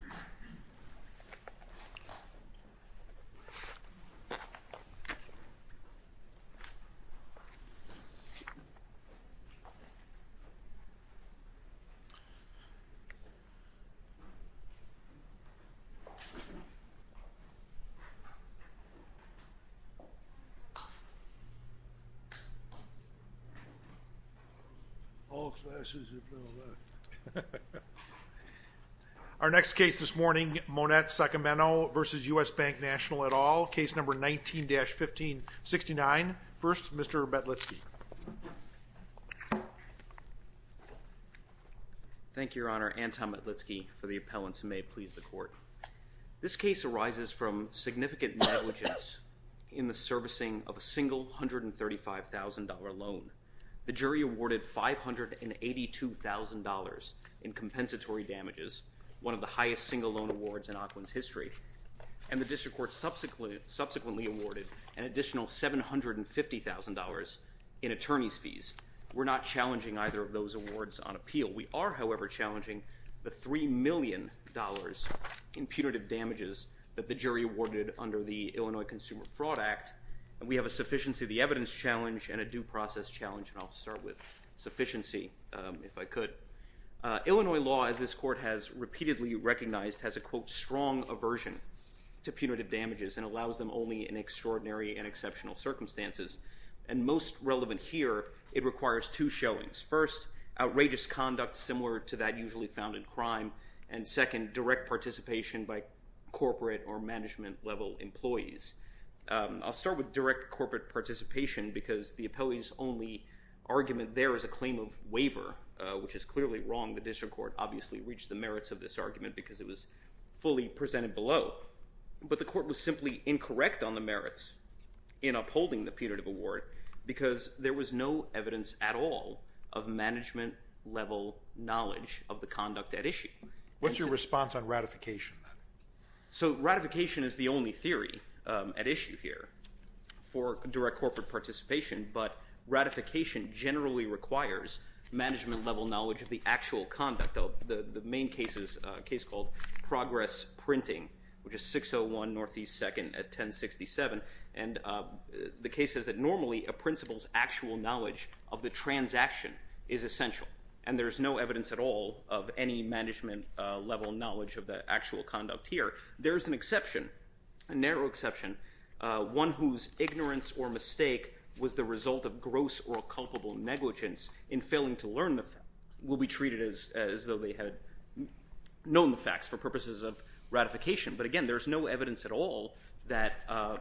grandson, Barack Obama. Monette Sacameno v. U.S. Bank National et al., Case No. 19-1569. First Mr. Metlitsky. Thank you, Your Honor. Anton Metlitsky for the appellants, and may it please the Court. This case arises from significant negligence in the servicing of a single $135,000 loan. The jury awarded $582,000 in compensatory damages, one of the highest single loan awards in Auckland's history, and the District Court subsequently awarded an additional $750,000 in attorney's fees. We're not challenging either of those awards on appeal. We are, however, challenging the $3 million in punitive damages that the jury awarded under the Illinois Consumer Fraud Act, and we have a sufficiency of the evidence challenge and a due process challenge, and I'll start with sufficiency, if I could. Illinois law, as this Court has repeatedly recognized, has a, quote, strong aversion to punitive damages and allows them only in extraordinary and exceptional circumstances. And most relevant here, it requires two showings. First, outrageous conduct similar to that usually found in crime, and second, direct participation by corporate or management-level employees. I'll start with direct corporate participation because the appellee's only argument there is a claim of waiver, which is clearly wrong. The District Court obviously reached the merits of this argument because it was fully presented below, but the Court was simply incorrect on the merits in upholding the punitive award because there was no evidence at all of management-level knowledge of the conduct at issue. What's your response on ratification, then? So ratification is the only theory at issue here for direct corporate participation, but ratification generally requires management-level knowledge of the actual conduct. The main case is a case called Progress Printing, which is 601 Northeast 2nd at 1067, and the case is that normally a principal's actual knowledge of the transaction is essential, and there is no evidence at all of any management-level knowledge of the actual conduct here. There is an exception, a narrow exception, one whose ignorance or mistake was the result of gross or culpable negligence in failing to learn the facts will be treated as though they had known the facts for purposes of ratification, but again, there is no evidence at all that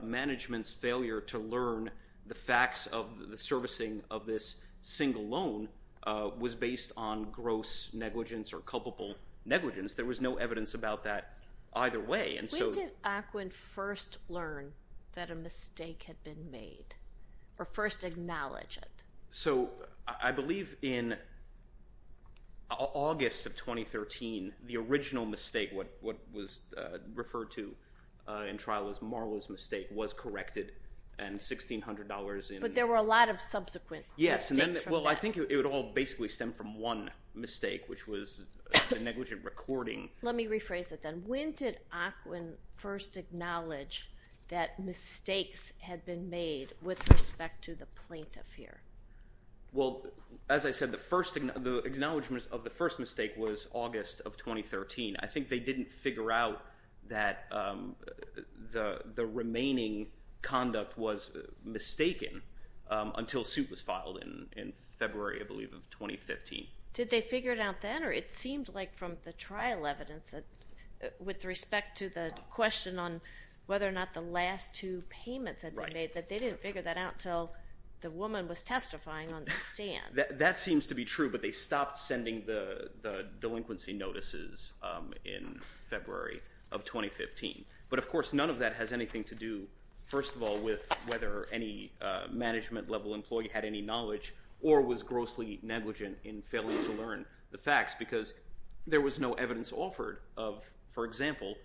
management's failure to learn the facts of the servicing of this single loan was based on gross negligence or culpable negligence. There was no evidence about that either way, and so... When did Ackwin first learn that a mistake had been made, or first acknowledge it? So I believe in August of 2013, the original mistake, what was referred to in trial as Marla's mistake, was corrected, and $1,600 in... But there were a lot of subsequent mistakes from that. Well, I think it would all basically stem from one mistake, which was the negligent recording. Let me rephrase it then. When did Ackwin first acknowledge that mistakes had been made with respect to the plaintiff here? Well, as I said, the acknowledgment of the first mistake was August of 2013. I think they didn't figure out that the remaining conduct was mistaken until suit was filed in February, I believe, of 2015. Did they figure it out then, or it seemed like from the trial evidence, with respect to the question on whether or not the last two payments had been made, that they didn't figure that out until the woman was testifying on the stand. That seems to be true, but they stopped sending the delinquency notices in February of 2015. But of course, none of that has anything to do, first of all, with whether any management-level employee had any knowledge or was grossly negligent in failing to learn the facts, because there was no evidence offered of, for example,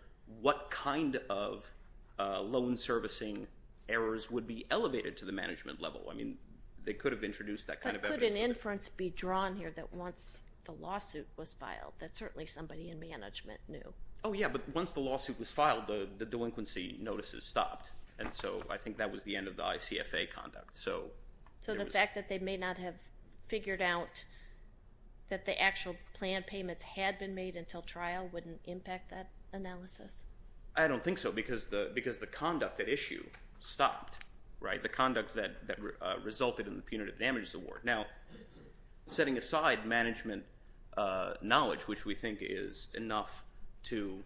what kind of loan servicing errors would be elevated to the management level. I mean, they could have introduced that kind of evidence. But could an inference be drawn here that once the lawsuit was filed, that certainly somebody in management knew? Oh, yeah, but once the lawsuit was filed, the delinquency notices stopped. And so I think that was the end of the ICFA conduct. So the fact that they may not have figured out that the actual planned payments had been made until trial wouldn't impact that analysis? I don't think so, because the conduct at issue stopped, right? The conduct that resulted in the punitive damages award. Now, setting aside management knowledge, which we think is enough to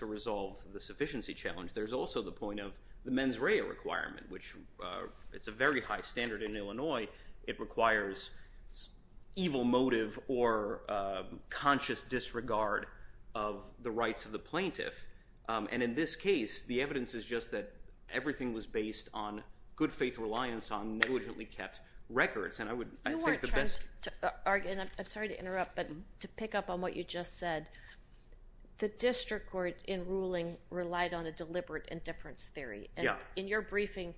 resolve the sufficiency challenge, there's also the point of the mens rea requirement, which is a very high standard in Illinois. It requires evil motive or conscious disregard of the rights of the plaintiff. And in this case, the evidence is just that everything was based on good faith reliance on negligently kept records. And I think the best- You weren't trying to argue, and I'm sorry to interrupt, but to pick up on what you just said, the district court in ruling relied on a deliberate indifference theory. In your briefing,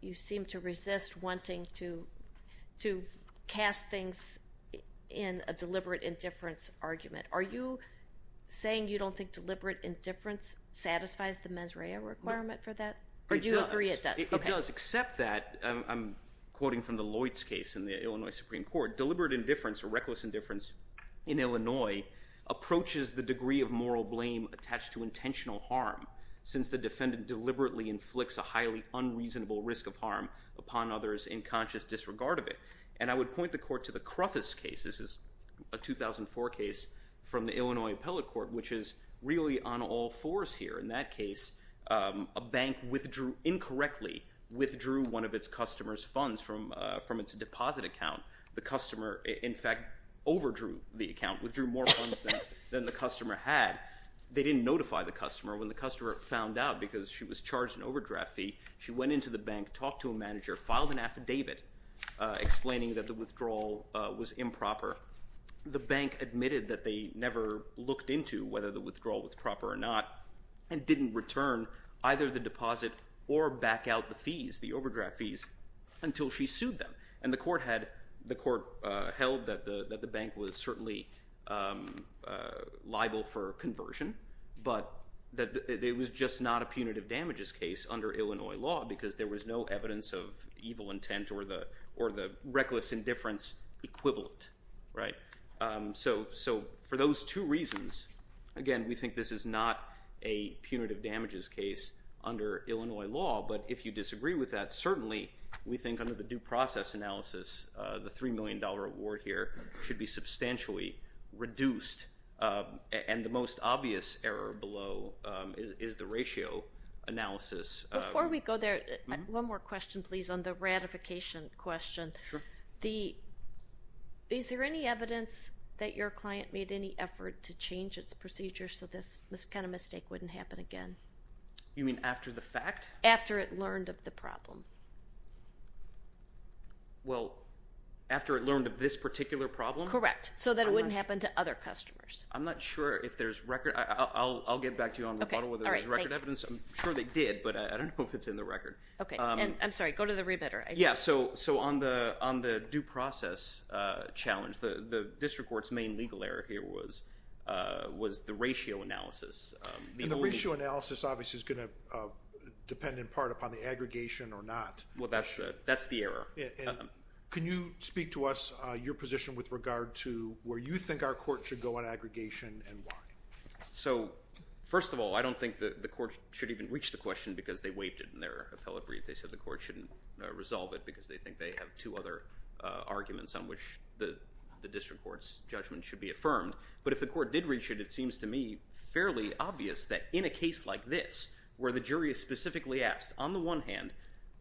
you seem to resist wanting to cast things in a deliberate indifference argument. Are you saying you don't think deliberate indifference satisfies the mens rea requirement for that? Or do you agree it does? It does. It does, except that, I'm quoting from the Lloyds case in the Illinois Supreme Court, that deliberate indifference or reckless indifference in Illinois approaches the degree of moral blame attached to intentional harm, since the defendant deliberately inflicts a highly unreasonable risk of harm upon others in conscious disregard of it. And I would point the court to the Cruthers case. This is a 2004 case from the Illinois Appellate Court, which is really on all fours here. In that case, a bank incorrectly withdrew one of its customers' funds from its deposit account. The customer, in fact, overdrew the account, withdrew more funds than the customer had. They didn't notify the customer. When the customer found out, because she was charged an overdraft fee, she went into the bank, talked to a manager, filed an affidavit explaining that the withdrawal was improper. The bank admitted that they never looked into whether the withdrawal was proper or not, and didn't return either the deposit or back out the fees, the overdraft fees, until she sued them. And the court held that the bank was certainly liable for conversion, but that it was just not a punitive damages case under Illinois law, because there was no evidence of evil intent or the reckless indifference equivalent. So for those two reasons, again, we think this is not a punitive damages case under Illinois law. But if you disagree with that, certainly we think under the due process analysis, the $3 million award here should be substantially reduced. And the most obvious error below is the ratio analysis. Before we go there, one more question, please, on the ratification question. Is there any evidence that your client made any effort to change its procedure so this kind of mistake wouldn't happen again? You mean after the fact? Correct. After it learned of the problem. Well, after it learned of this particular problem? Correct. So that it wouldn't happen to other customers. I'm not sure if there's record, I'll get back to you on rebuttal whether there's record evidence. I'm sure they did, but I don't know if it's in the record. Okay. And I'm sorry, go to the rebutter. Yeah. So on the due process challenge, the district court's main legal error here was the ratio analysis. And the ratio analysis obviously is going to depend in part upon the aggregation or not. Well, that's the error. And can you speak to us, your position with regard to where you think our court should go on aggregation and why? So first of all, I don't think the court should even reach the question because they waived it in their appellate brief. They said the court shouldn't resolve it because they think they have two other arguments on which the district court's judgment should be affirmed. But if the court did reach it, it seems to me fairly obvious that in a case like this, where the jury is specifically asked, on the one hand,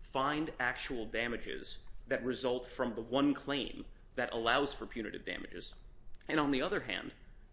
find actual damages that result from the one claim that allows for punitive damages. And on the other hand,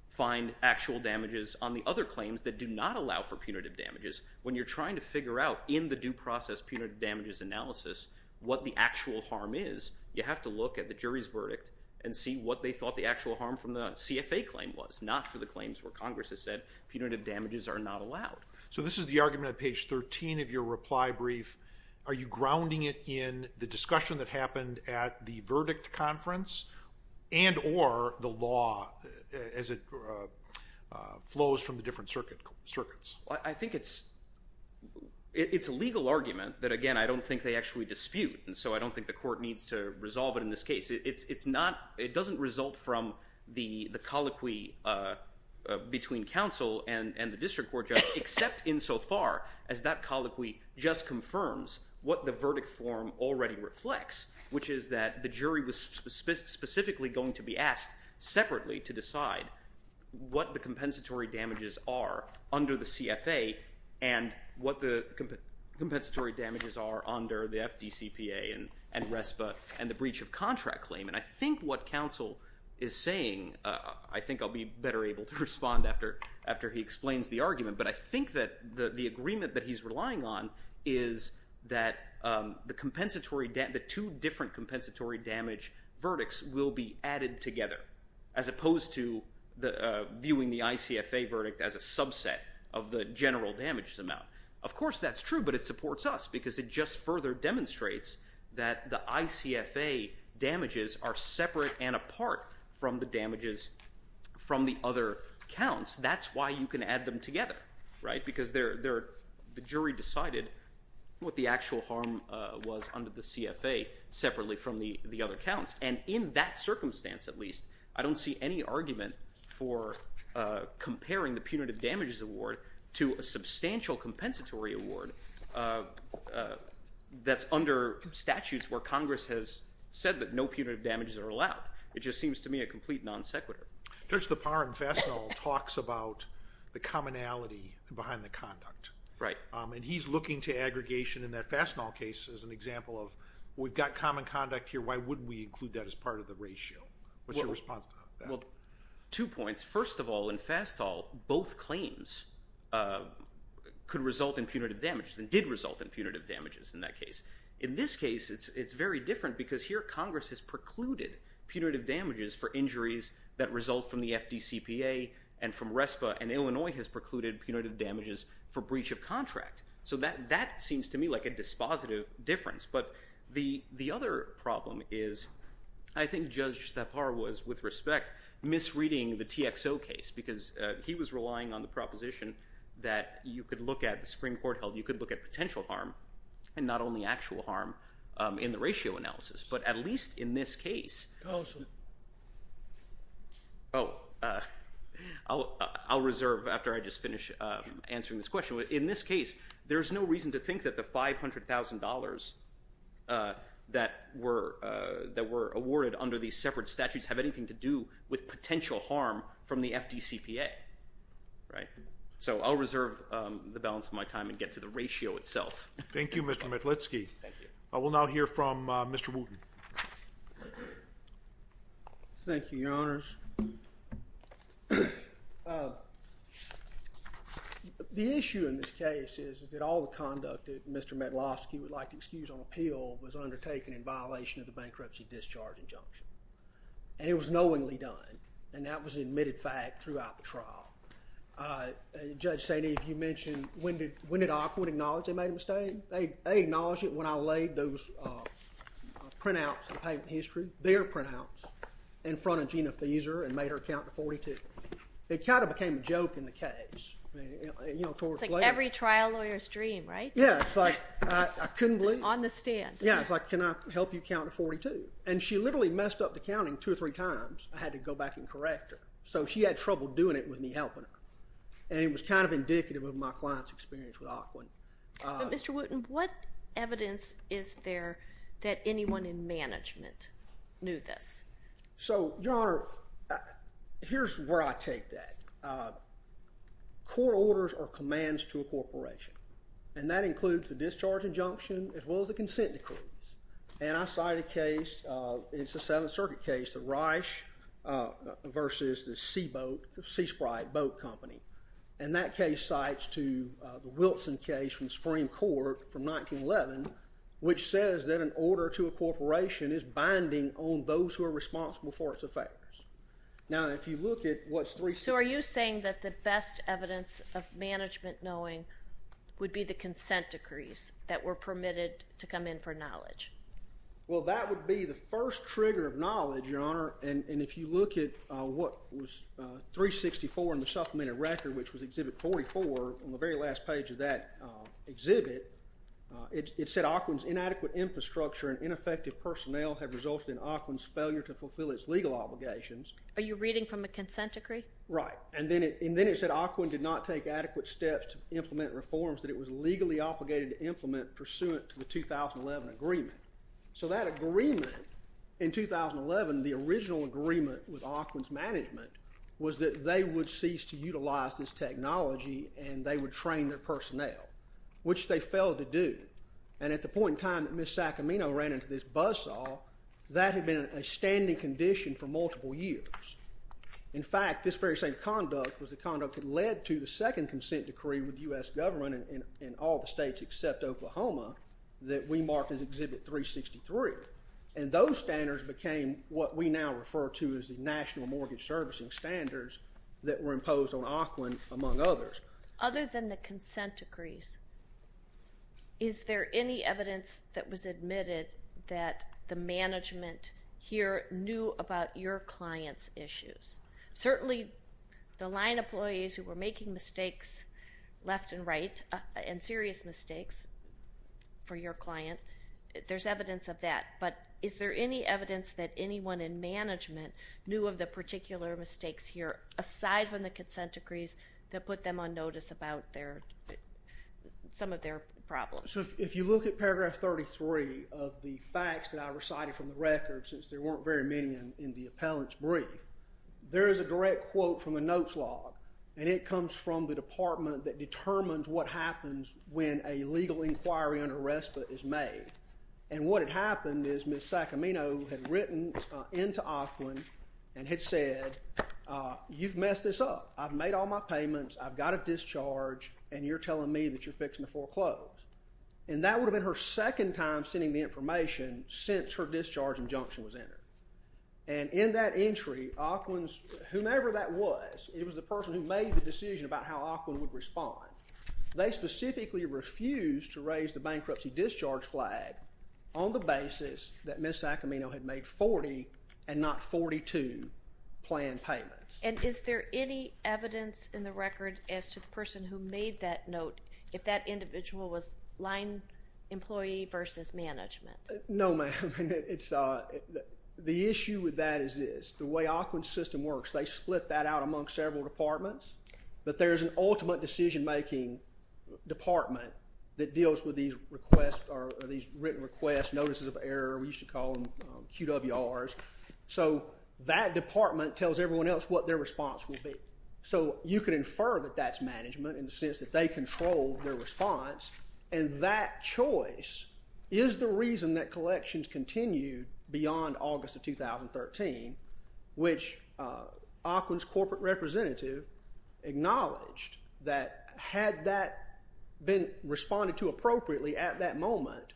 find actual damages on the other claims that do not allow for punitive damages. When you're trying to figure out in the due process punitive damages analysis what the actual harm is, you have to look at the jury's verdict and see what they thought the actual harm from the CFA claim was, not for the claims where Congress has said punitive damages are not allowed. So this is the argument on page 13 of your reply brief. Are you grounding it in the discussion that happened at the verdict conference and or the law as it flows from the different circuits? I think it's a legal argument that, again, I don't think they actually dispute. And so I don't think the court needs to resolve it in this case. It doesn't result from the colloquy between counsel and the district court judge, except insofar as that colloquy just confirms what the verdict form already reflects, which is that the jury was specifically going to be asked separately to decide what the compensatory damages are under the CFA and what the compensatory damages are under the FDCPA and RESPA and the breach of contract claim. And I think what counsel is saying, I think I'll be better able to respond after he explains the argument, but I think that the agreement that he's relying on is that the two different compensatory damage verdicts will be added together, as opposed to viewing the ICFA verdict as a subset of the general damages amount. Of course that's true, but it supports us because it just further demonstrates that the ICFA damages are separate and apart from the damages from the other counts. That's why you can add them together, right? Because the jury decided what the actual harm was under the CFA separately from the other counts. And in that circumstance, at least, I don't see any argument for comparing the punitive what Congress has said, that no punitive damages are allowed. It just seems to me a complete non sequitur. Judge Lepar and Fastall talks about the commonality behind the conduct. Right. And he's looking to aggregation in that Fastall case as an example of, we've got common conduct here, why wouldn't we include that as part of the ratio? What's your response to that? Two points. First of all, in Fastall, both claims could result in punitive damages and did result in punitive damages in that case. In this case, it's very different because here, Congress has precluded punitive damages for injuries that result from the FDCPA and from RESPA. And Illinois has precluded punitive damages for breach of contract. So that seems to me like a dispositive difference. But the other problem is, I think Judge Lepar was, with respect, misreading the TXO case because he was relying on the proposition that you could look at the Supreme Court held, and you could look at potential harm, and not only actual harm in the ratio analysis. But at least in this case, I'll reserve after I just finish answering this question. In this case, there's no reason to think that the $500,000 that were awarded under these separate statutes have anything to do with potential harm from the FDCPA. So I'll reserve the balance of my time and get to the ratio itself. Thank you, Mr. Metlitsky. I will now hear from Mr. Wooten. Thank you, Your Honors. The issue in this case is that all the conduct that Mr. Metlowski would like to excuse on appeal was undertaken in violation of the bankruptcy discharge injunction. And it was knowingly done. And that was an admitted fact throughout the trial. Judge St. Eve, you mentioned, when did Occoquan acknowledge they made a mistake? They acknowledged it when I laid those printouts of the patent history, their printouts, in front of Gina Feser and made her count to 42. It kind of became a joke in the case, you know, towards the end. It's like every trial lawyer's dream, right? Yeah. It's like, I couldn't believe it. On the stand. Yeah. It's like, can I help you count to 42? And she literally messed up the counting two or three times. I had to go back and correct her. So she had trouble doing it with me helping her. And it was kind of indicative of my client's experience with Occoquan. Mr. Wooten, what evidence is there that anyone in management knew this? So, Your Honor, here's where I take that. Court orders are commands to a corporation. And that includes the discharge injunction as well as the consent decrees. And I cite a case, it's a Seventh Circuit case, the Reich versus the Seaboat, the Seasprite Boat Company. And that case cites to the Wilson case from the Supreme Court from 1911, which says that an order to a corporation is binding on those who are responsible for its effects. Now, if you look at what's 360. So are you saying that the best evidence of management knowing would be the Well, that would be the first trigger of knowledge, Your Honor. And if you look at what was 364 in the supplemented record, which was Exhibit 44 on the very last page of that exhibit, it said Occoquan's inadequate infrastructure and ineffective personnel have resulted in Occoquan's failure to fulfill its legal obligations. Are you reading from a consent decree? Right. And then it said Occoquan did not take adequate steps to implement reforms that it was legally obligated to implement pursuant to the 2011 agreement. So that agreement in 2011, the original agreement with Occoquan's management was that they would cease to utilize this technology and they would train their personnel, which they failed to do. And at the point in time that Ms. Sacramento ran into this buzzsaw, that had been a standing condition for multiple years. In fact, this very same conduct was the conduct that led to the second consent decree with U.S. government in all the states except Oklahoma that we marked as Exhibit 363. And those standards became what we now refer to as the National Mortgage Servicing Standards that were imposed on Occoquan, among others. Other than the consent decrees, is there any evidence that was admitted that the management here knew about your clients' issues? Certainly the line employees who were making mistakes left and right and serious mistakes for your client, there's evidence of that. But is there any evidence that anyone in management knew of the particular mistakes here aside from the consent decrees that put them on notice about some of their problems? If you look at paragraph 33 of the facts that I recited from the record, since there weren't very many in the appellant's brief, there is a direct quote from the notes log, and it comes from the department that determines what happens when a legal inquiry under RESPA is made. And what had happened is Ms. Sacramento had written into Occoquan and had said, you've messed this up. I've made all my payments, I've got a discharge, and you're telling me that you're fixing the foreclose. And that would have been her second time sending the information since her question was entered. And in that entry, Occoquan's, whomever that was, it was the person who made the decision about how Occoquan would respond. They specifically refused to raise the bankruptcy discharge flag on the basis that Ms. Sacramento had made 40 and not 42 planned payments. And is there any evidence in the record as to the person who made that note, if that individual was line employee versus management? No, ma'am. The issue with that is this. The way Occoquan's system works, they split that out among several departments, but there's an ultimate decision-making department that deals with these written requests, notices of error, we used to call them QWRs. So that department tells everyone else what their response will be. So you can infer that that's management in the sense that they control their decision that collections continued beyond August of 2013, which Occoquan's corporate representative acknowledged that had that been responded to appropriately at that moment,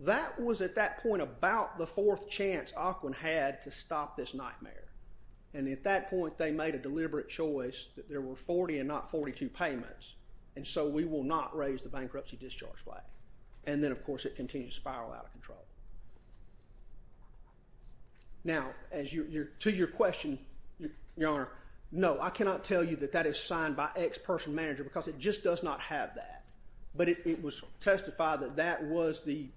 that was at that point about the fourth chance Occoquan had to stop this nightmare. And at that point, they made a deliberate choice that there were 40 and not 42 payments. And so we will not raise the bankruptcy discharge flag. And then, of course, it continues to spiral out of control. Now, to your question, Your Honor, no. I cannot tell you that that is signed by X person manager because it just does not have that. But it was testified that that was the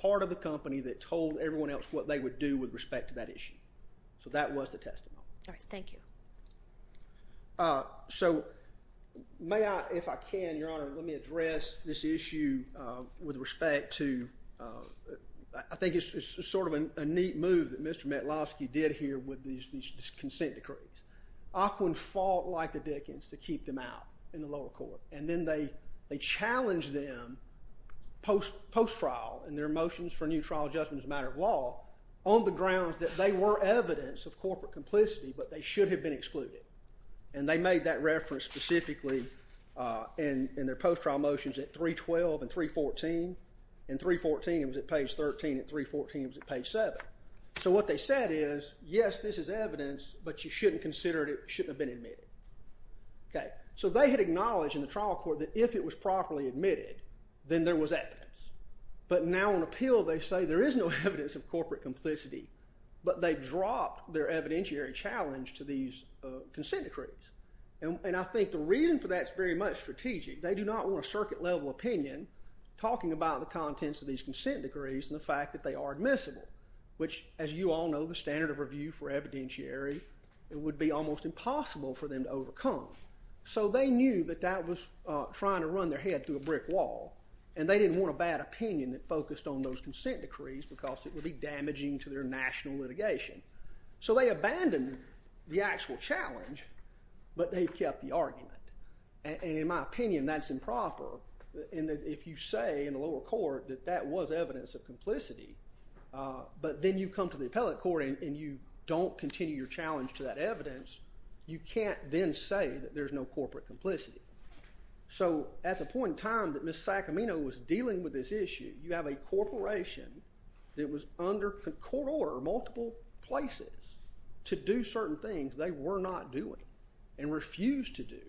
part of the company that told everyone else what they would do with respect to that issue. So that was the testimony. All right. Thank you. So may I, if I can, Your Honor, let me address this issue with respect to, I think it's sort of a neat move that Mr. Metlovsky did here with these consent decrees. Occoquan fought like the Dickens to keep them out in the lower court. And then they challenged them post-trial in their motions for new trial judgment as a matter of law on the grounds that they were evidence of corporate complicity, but they should have been excluded. And they made that reference specifically in their post-trial motions at 312 and 314. In 314, it was at page 13. In 314, it was at page 7. So what they said is, yes, this is evidence, but you shouldn't consider it. It shouldn't have been admitted. So they had acknowledged in the trial court that if it was properly admitted, then there was evidence. But now on appeal, they say there is no evidence of corporate complicity. But they dropped their evidentiary challenge to these consent decrees. And I think the reason for that is very much strategic. They do not want a circuit-level opinion talking about the contents of these consent decrees and the fact that they are admissible, which, as you all know, the standard of review for evidentiary, it would be almost impossible for them to overcome. So they knew that that was trying to run their head through a brick wall. And they didn't want a bad opinion that focused on those consent decrees because it would be damaging to their national litigation. So they abandoned the actual challenge, but they've kept the argument. And in my opinion, that's improper. If you say in the lower court that that was evidence of complicity, but then you come to the appellate court and you don't continue your challenge to that evidence, you can't then say that there's no corporate complicity. So at the point in time that Ms. Sacamino was dealing with this issue, you have a corporation that was under court order in multiple places to do certain things they were not doing and refused to do.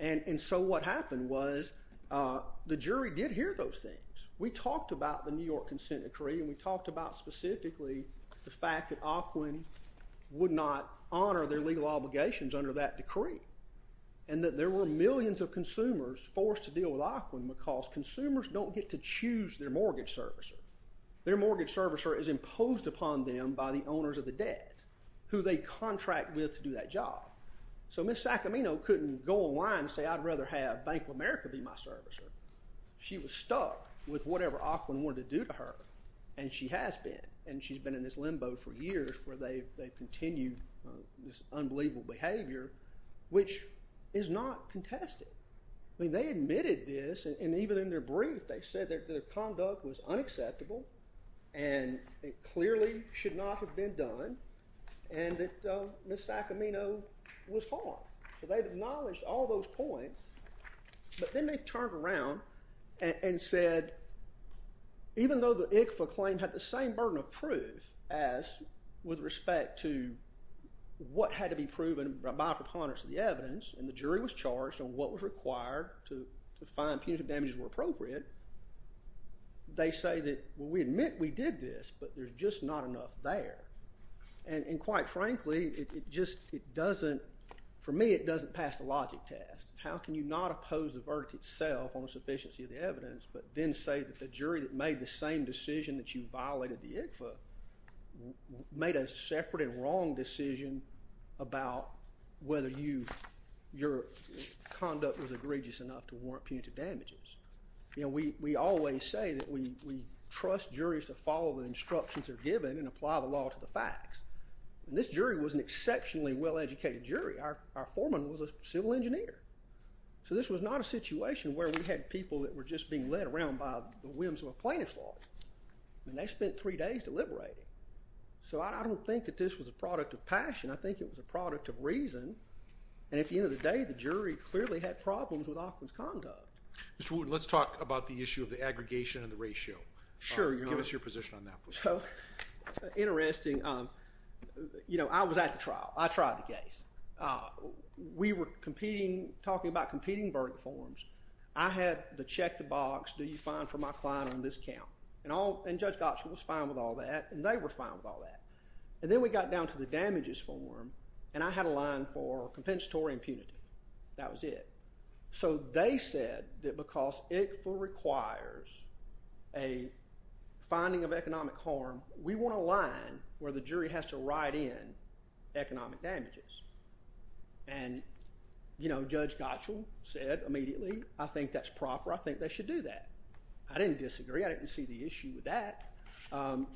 And so what happened was the jury did hear those things. We talked about the New York consent decree, and we talked about specifically the fact that AQUIN would not honor their legal obligations under that decree, and that there were millions of consumers forced to deal with AQUIN because consumers don't get to choose their mortgage servicer. Their mortgage servicer is imposed upon them by the owners of the debt who they contract with to do that job. So Ms. Sacamino couldn't go online and say, I'd rather have Bank of America be my servicer. She was stuck with whatever AQUIN wanted to do to her, and she has been, and she's been in this limbo for years where they've continued this unbelievable behavior, which is not contested. I mean, they admitted this, and even in their brief, they said that their conduct was unacceptable and it clearly should not have been done, and that Ms. Sacamino was harmed. So they've acknowledged all those points, but then they've turned around and said, even though the ICFA claim had the same burden of proof as with respect to what had to be proven by preponderance of the evidence, and the jury was charged on what was required to find punitive damages were appropriate, they say that, well, we admit we did this, but there's just not enough there. And quite frankly, for me, it doesn't pass the logic test. How can you not oppose the verdict itself on the sufficiency of the evidence, but then say that the jury that made the same decision that you violated the ICFA made a separate and wrong decision about whether your conduct was egregious enough to warrant punitive damages? You know, we always say that we trust juries to follow the instructions they're given and apply the law to the facts. And this jury was an exceptionally well-educated jury. Our foreman was a civil engineer. So this was not a situation where we had people that were just being led around by the whims of a plaintiff's law. I mean, they spent three days deliberating. So I don't think that this was a product of passion. I think it was a product of reason. And at the end of the day, the jury clearly had problems with Offman's conduct. Mr. Wood, let's talk about the issue of the aggregation and the ratio. Sure, Your Honor. Give us your position on that, please. Interesting. You know, I was at the trial. I tried the case. We were talking about competing verdict forms. I had the check the box, do you fine for my client on this count? And Judge Gottschall was fine with all that, and they were fine with all that. And then we got down to the damages form, and I had a line for compensatory impunity. That was it. So they said that because it requires a finding of economic harm, we want a line where the jury has to write in economic damages. And, you know, Judge Gottschall said immediately, I think that's proper. I think they should do that. I didn't disagree. I didn't see the issue with that. And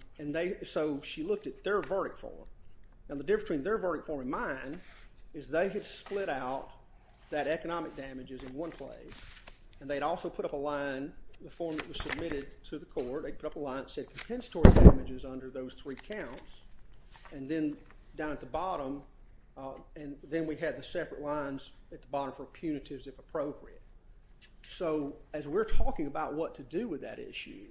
so she looked at their verdict form. Now, the difference between their verdict form and mine is they had split out that economic damages in one place, and they had also put up a line in the form that was submitted to the court. They put up a line that said compensatory damages under those three counts. And then down at the bottom, and then we had the separate lines at the bottom for punitives, if appropriate. So as we're talking about what to do with that issue,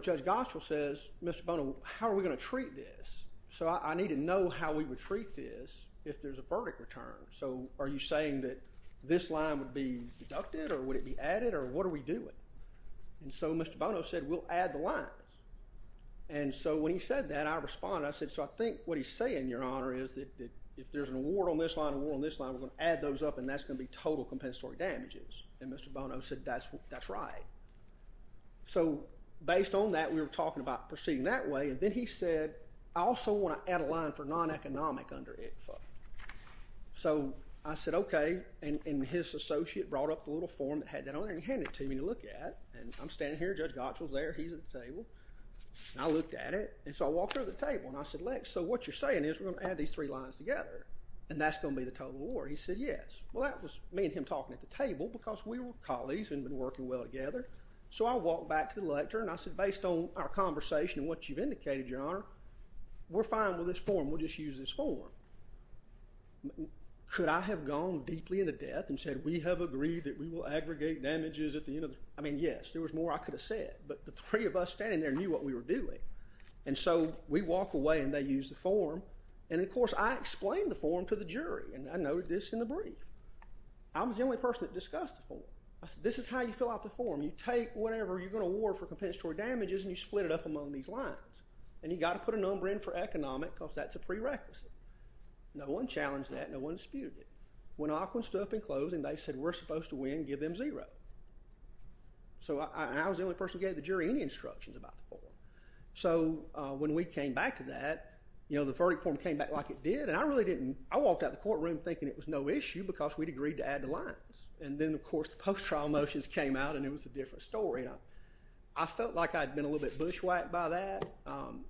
Judge Gottschall says, Mr. Bono, how are we going to treat this? So I need to know how we would treat this if there's a verdict return. So are you saying that this line would be deducted, or would it be added, or what are we doing? And so Mr. Bono said, we'll add the lines. And so when he said that, I responded. I said, so I think what he's saying, Your Honor, is that if there's an award on this line, an award on this line, we're going to add those up, and that's going to be total compensatory damages. And Mr. Bono said, that's right. So based on that, we were talking about proceeding that way. And then he said, I also want to add a line for non-economic under ICFA. So I said, OK. And his associate brought up the little form that had that on there and he handed it to me to look at. And I'm standing here. Judge Gottschall's there. He's at the table. And I looked at it. And so I walked over to the table, and I said, Lex, so what you're saying is we're going to add these three lines together, and that's going to be the total award. He said, yes. Well, that was me and him talking at the table, because we were colleagues and had been working well together. So I walked back to the lecture, and I said, based on our conversation and what you've indicated, Your Honor, we're fine with this form. We'll just use this form. Could I have gone deeply into depth and said, we have agreed that we will aggregate damages at the end of the I mean, yes. There was more I could have said. But the three of us standing there knew what we were doing. And so we walk away, and they use the form. And, of course, I explain the form to the jury. And I noted this in the brief. I was the only person that discussed the form. I said, this is how you fill out the form. You take whatever you're going to award for compensatory damages, and you split it up among these lines. And you've got to put a number in for economic, because that's a prerequisite. No one challenged that. No one disputed it. When Aquin stood up in closing, they said, we're supposed to win and give them zero. So I was the only person who gave the jury any instructions about the form. So when we came back to that, you know, the verdict form came back like it did. And I walked out of the courtroom thinking it was no issue, because we'd agreed to add the lines. And then, of course, the post-trial motions came out, and it was a different story. And I felt like I'd been a little bit bushwhacked by that.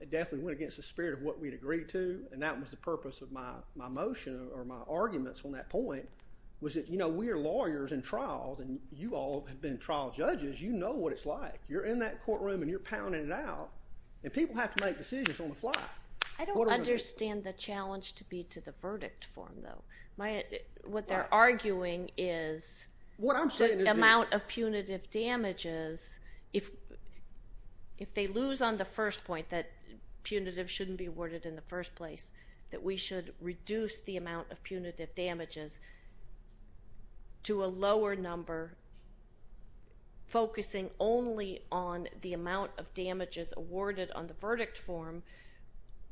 It definitely went against the spirit of what we'd agreed to. And that was the purpose of my motion or my arguments on that point, was that, you know, we are lawyers in trials, and you all have been trial judges. You know what it's like. You're in that courtroom, and you're pounding it out. And people have to make decisions on the fly. I don't understand the challenge to be to the verdict form, though. What they're arguing is the amount of punitive damages, if they lose on the first point, that punitive shouldn't be awarded in the first place, that we should reduce the amount of punitive damages to a lower number, focusing only on the amount of damages awarded on the verdict form,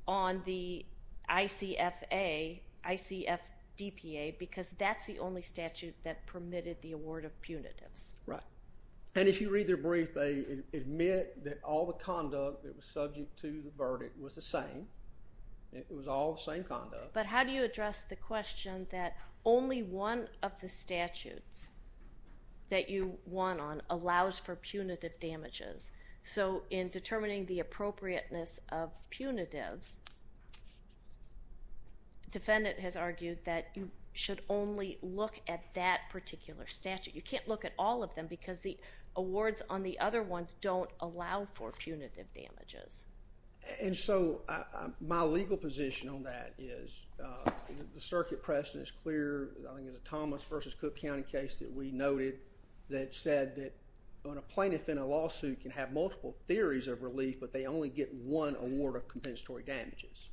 on the ICFA, ICFDPA, because that's the only statute that permitted the award of punitives. Right. And if you read their brief, they admit that all the conduct that was subject to the verdict was the same. It was all the same conduct. But how do you address the question that only one of the statutes that you won on allows for punitive damages? So, in determining the appropriateness of punitives, defendant has argued that you should only look at that particular statute. You can't look at all of them, because the awards on the other ones don't allow for punitive damages. And so, my legal position on that is the circuit precedent is clear. I think it's a Thomas versus Cook County case that we noted that said that a plaintiff in a lawsuit can have multiple theories of relief, but they only get one award of compensatory damages.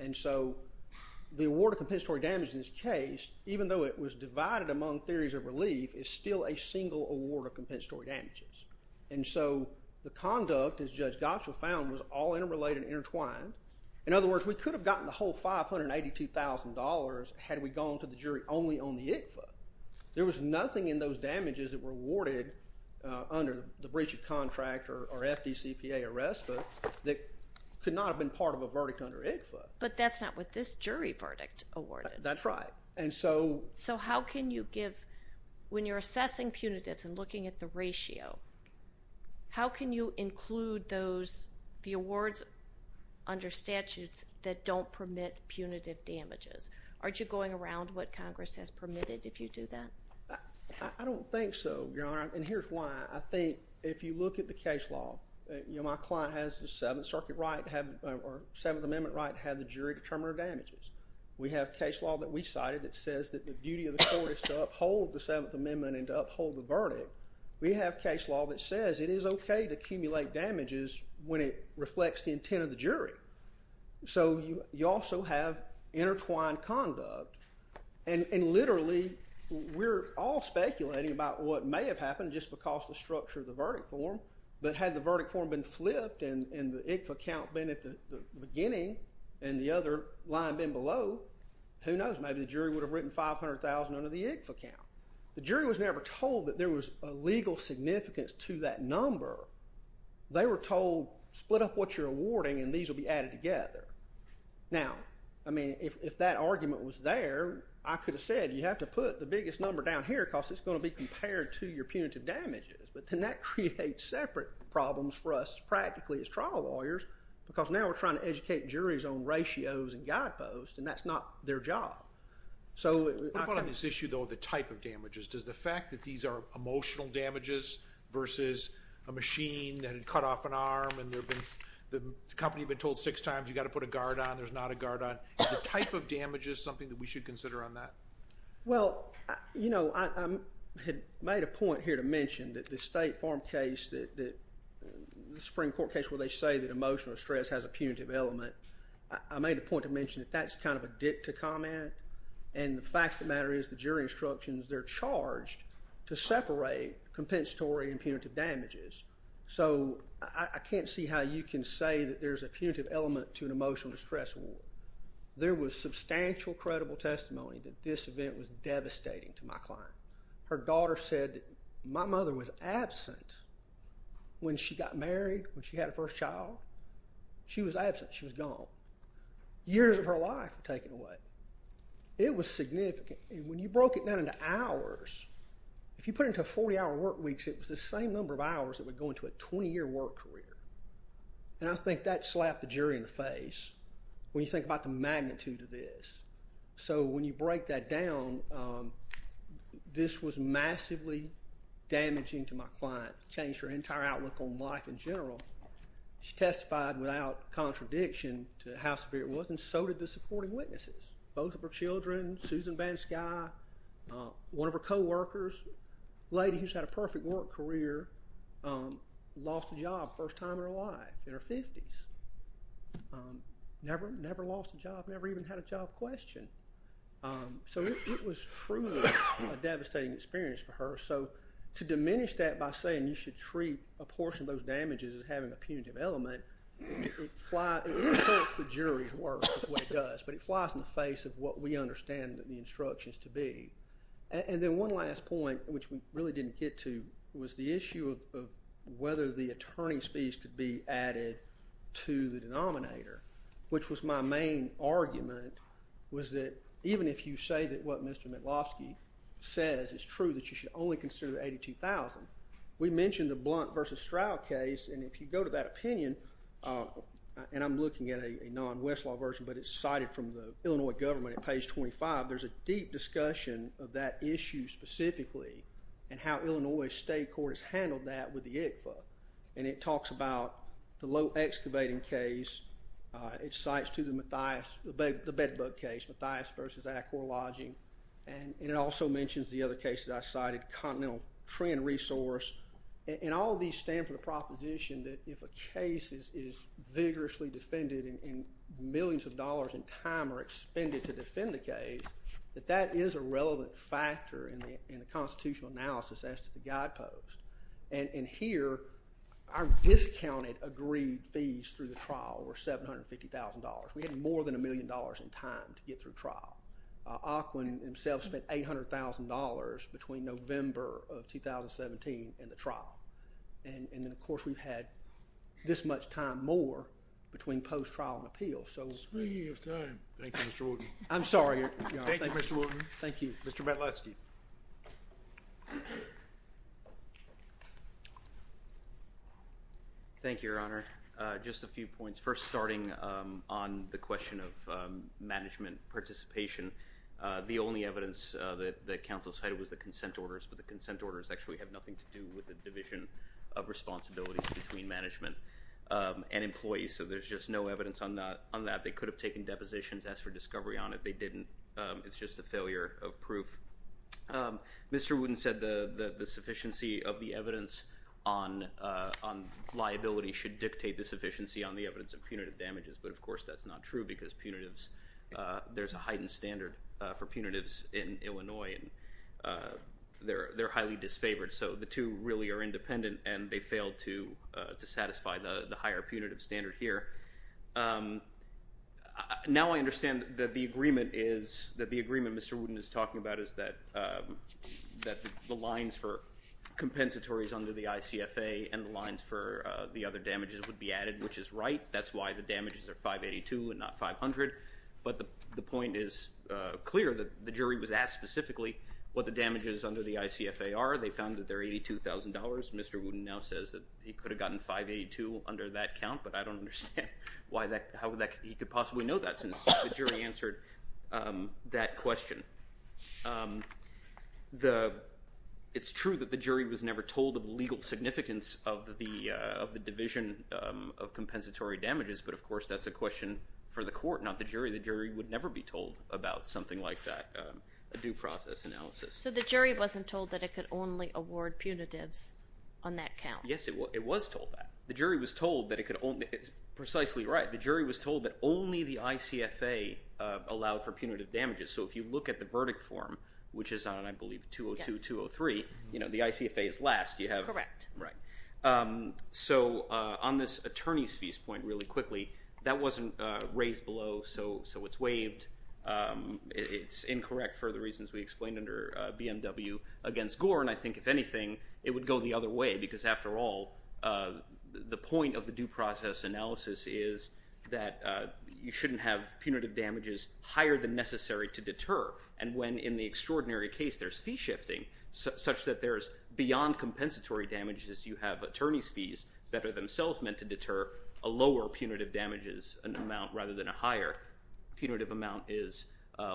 And so, the award of compensatory damages in this case, even though it was divided among theories of relief, is still a single award of compensatory damages. And so, the conduct, as Judge Gottschall found, was all interrelated and intertwined. In other words, we could have gotten the whole $582,000 had we gone to the jury only on the ICFA. There was nothing in those damages that were awarded under the breach of contract or FDCPA or RESPA that could not have been part of a verdict under ICFA. But that's not what this jury verdict awarded. That's right. And so... So, how can you give... When you're assessing punitives and looking at the ratio, how can you include those, the awards under statutes that don't permit punitive damages? Aren't you going around what Congress has permitted if you do that? I don't think so, Your Honor. And here's why. I think if you look at the case law... My client has the Seventh Amendment right to have the jury determine her damages. We have case law that we cited that says that the duty of the court is to uphold the Seventh Amendment and to uphold the verdict. We have case law that says it is okay to accumulate damages when it reflects the intent of the jury. So, you also have intertwined conduct. And literally, we're all speculating about what may have happened just because the structure of the verdict form. But had the verdict form been flipped and the ICFA count been at the beginning and the other line been below, who knows, maybe the jury would have written $500,000 under the ICFA count. The jury was never told that there was a legal significance to that number. They were told, split up what you're awarding and these will be added together. Now, I mean, if that argument was there, I could have said, you have to put the biggest number down here because it's going to be compared to your punitive damages. But then that creates separate problems for us practically as trial lawyers because now we're trying to educate juries on ratios and guideposts, and that's not their job. So... What about on this issue, though, of the type of damages? Does the fact that these are emotional damages versus a machine that had cut off an arm and the company had been told six times, you got to put a guard on, there's not a guard on. Is the type of damages something that we should consider on that? Well, you know, I had made a point here to mention that the State Farm case, the Supreme Court case where they say that emotional stress has a punitive element, I made a point to mention that that's kind of a dip to comment and the fact of the matter is, the jury instructions, they're charged to separate compensatory and punitive damages. So, I can't see how you can say that there's a punitive element to an emotional distress award. There was substantial credible testimony that this event was devastating to my client. Her daughter said, my mother was absent when she got married, when she had her first child. She was absent. She was gone. Years of her life were taken away. It was significant. When you broke it down into hours, if you put it into 40-hour work weeks, it was the same number of hours that would go into a 20-year work career. And I think that slapped the jury in the face when you think about the magnitude of this. So, when you break that down, this was massively damaging to my client. It changed her entire outlook on life in general. She testified without contradiction to how severe it was and so did the supporting witnesses. Both of her children, Susan VanSky, one of her co-workers, a lady who's had a perfect work career, lost a job, first time in her life, in her 50s. Never lost a job, never even had a job question. So, it was truly a devastating experience for her. So, to diminish that by saying you should treat a portion of those damages as having a punitive element, it inserts the jury's work, is what it does, but it flies in the face of what we understand the instructions to be. And then one last point, which we really didn't get to, was the issue of whether the attorney's fees could be added to the denominator, which was my main argument, was that even if you say that what Mr. Metlofsky says is true, that you should only consider the $82,000. We mentioned the Blount v. Stroud case, and if you go to that opinion, and I'm looking at a non-Westlaw version, but it's cited from the Illinois government at page 25, there's a deep discussion of that issue specifically, and how Illinois state court has handled that with the ICFA, and it talks about the low excavating case, it cites to the Bedbug case, Mathias v. Acor Lodging, and it also mentions the other cases I cited, Continental Trend Resource, and all these stand for the proposition that if a case is vigorously defended and millions of dollars in time are expended to defend the case, that that is a relevant factor in the constitutional analysis as to the guidepost, and here, our discounted agreed fees through the trial were $750,000. We had more than a million dollars in time to get through trial. Auckland himself spent $800,000 between November of 2017 and the trial, and then, of course, we've had this much time more between post-trial and appeal. Speaking of time. Thank you, Mr. Wooten. I'm sorry, Your Honor. Thank you, Mr. Wooten. Thank you. Mr. Matloski. Thank you, Your Honor. Just a few points. First, starting on the question of management participation, the only evidence that counsel cited was the consent orders, but the consent orders actually have nothing to do with the division of responsibilities between management and employees, so there's just no evidence on that. They could have taken depositions as for discovery on it. They didn't. It's just a failure of proof. Mr. Wooten said the sufficiency of the evidence on liability should dictate the sufficiency on the evidence of punitive damages, but, of course, that's not true because there's a heightened standard for punitives in Illinois, and they're highly disfavored, so the two really are independent, and they failed to satisfy the higher punitive standard here. Now I understand that the agreement Mr. Wooten is talking about is that the lines for compensatories under the ICFA and the lines for the other damages would be added, which is right. That's why the damages are 582 and not 500, but the point is clear that the jury was asked specifically what the damages under the ICFA are. They found that they're $82,000. Mr. Wooten now says that he could have gotten 582 under that count, but I don't understand how he could possibly know that since the jury answered that question. It's true that the jury was never told of the legal significance of the division of compensatory damages, but, of course, that's a question for the court, not the jury. The jury would never be told about something like that, a due process analysis. So the jury wasn't told that it could only award punitives on that count? Yes, it was told that. The jury was told that it could only... It's precisely right. The jury was told that only the ICFA allowed for punitive damages. So if you look at the verdict form, which is on, I believe, 202, 203, the ICFA is last. Correct. Right. So on this attorney's fees point really quickly, that wasn't raised below, so it's waived. It's incorrect for the reasons we explained under BMW against Gore. And I think, if anything, it would go the other way because, after all, the point of the due process analysis is that you shouldn't have punitive damages higher than necessary to deter. And when, in the extraordinary case, there's fee shifting, such that there's beyond compensatory damages, you have attorney's fees that are themselves meant to deter a lower punitive damages amount rather than a higher punitive amount is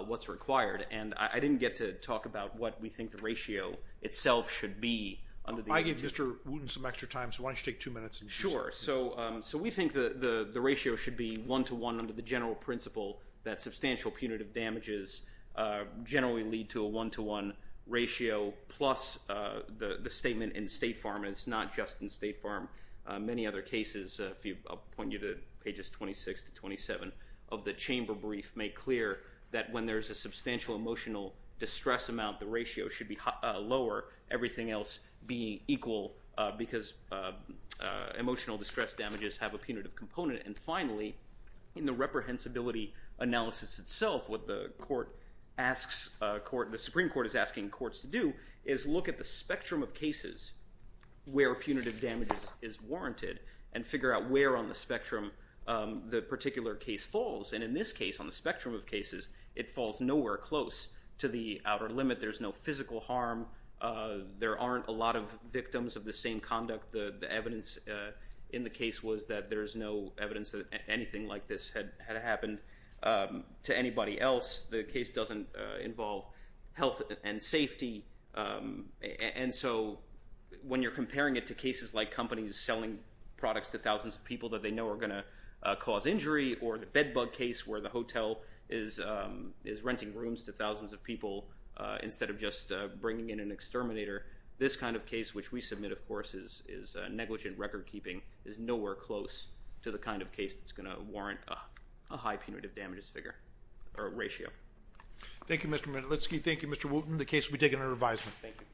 what's required. And I didn't get to talk about what we think the ratio itself should be. I gave Mr. Wooten some extra time, so why don't you take two minutes? Sure. So we think the ratio should be one-to-one under the general principle that substantial punitive damages generally lead to a one-to-one ratio, plus the statement in State Farm, and it's not just in State Farm. Many other cases, I'll point you to pages 26 to 27, of the chamber brief make clear that when there's a substantial emotional distress amount, the ratio should be lower, everything else be equal, because emotional distress damages have a punitive component. And finally, in the reprehensibility analysis itself, what the Supreme Court is asking courts to do is look at the spectrum of cases where punitive damages is warranted and figure out where on the spectrum the particular case falls. And in this case, on the spectrum of cases, it falls nowhere close to the outer limit. There's no physical harm. There aren't a lot of victims of the same conduct. The evidence in the case was that there's no evidence that anything like this had happened to anybody else. The case doesn't involve health and safety. And so when you're comparing it to cases like companies selling products to thousands of people that they know are going to cause injury or the bed bug case where the hotel is renting rooms to thousands of people instead of just bringing in an exterminator, this kind of case, which we submit, of course, is negligent record-keeping, is nowhere close to the kind of case that's going to warrant a high punitive damages ratio. Thank you, Mr. Manalitsky. Thank you, Mr. Wooten. The case will be taken under advisement. Thank you.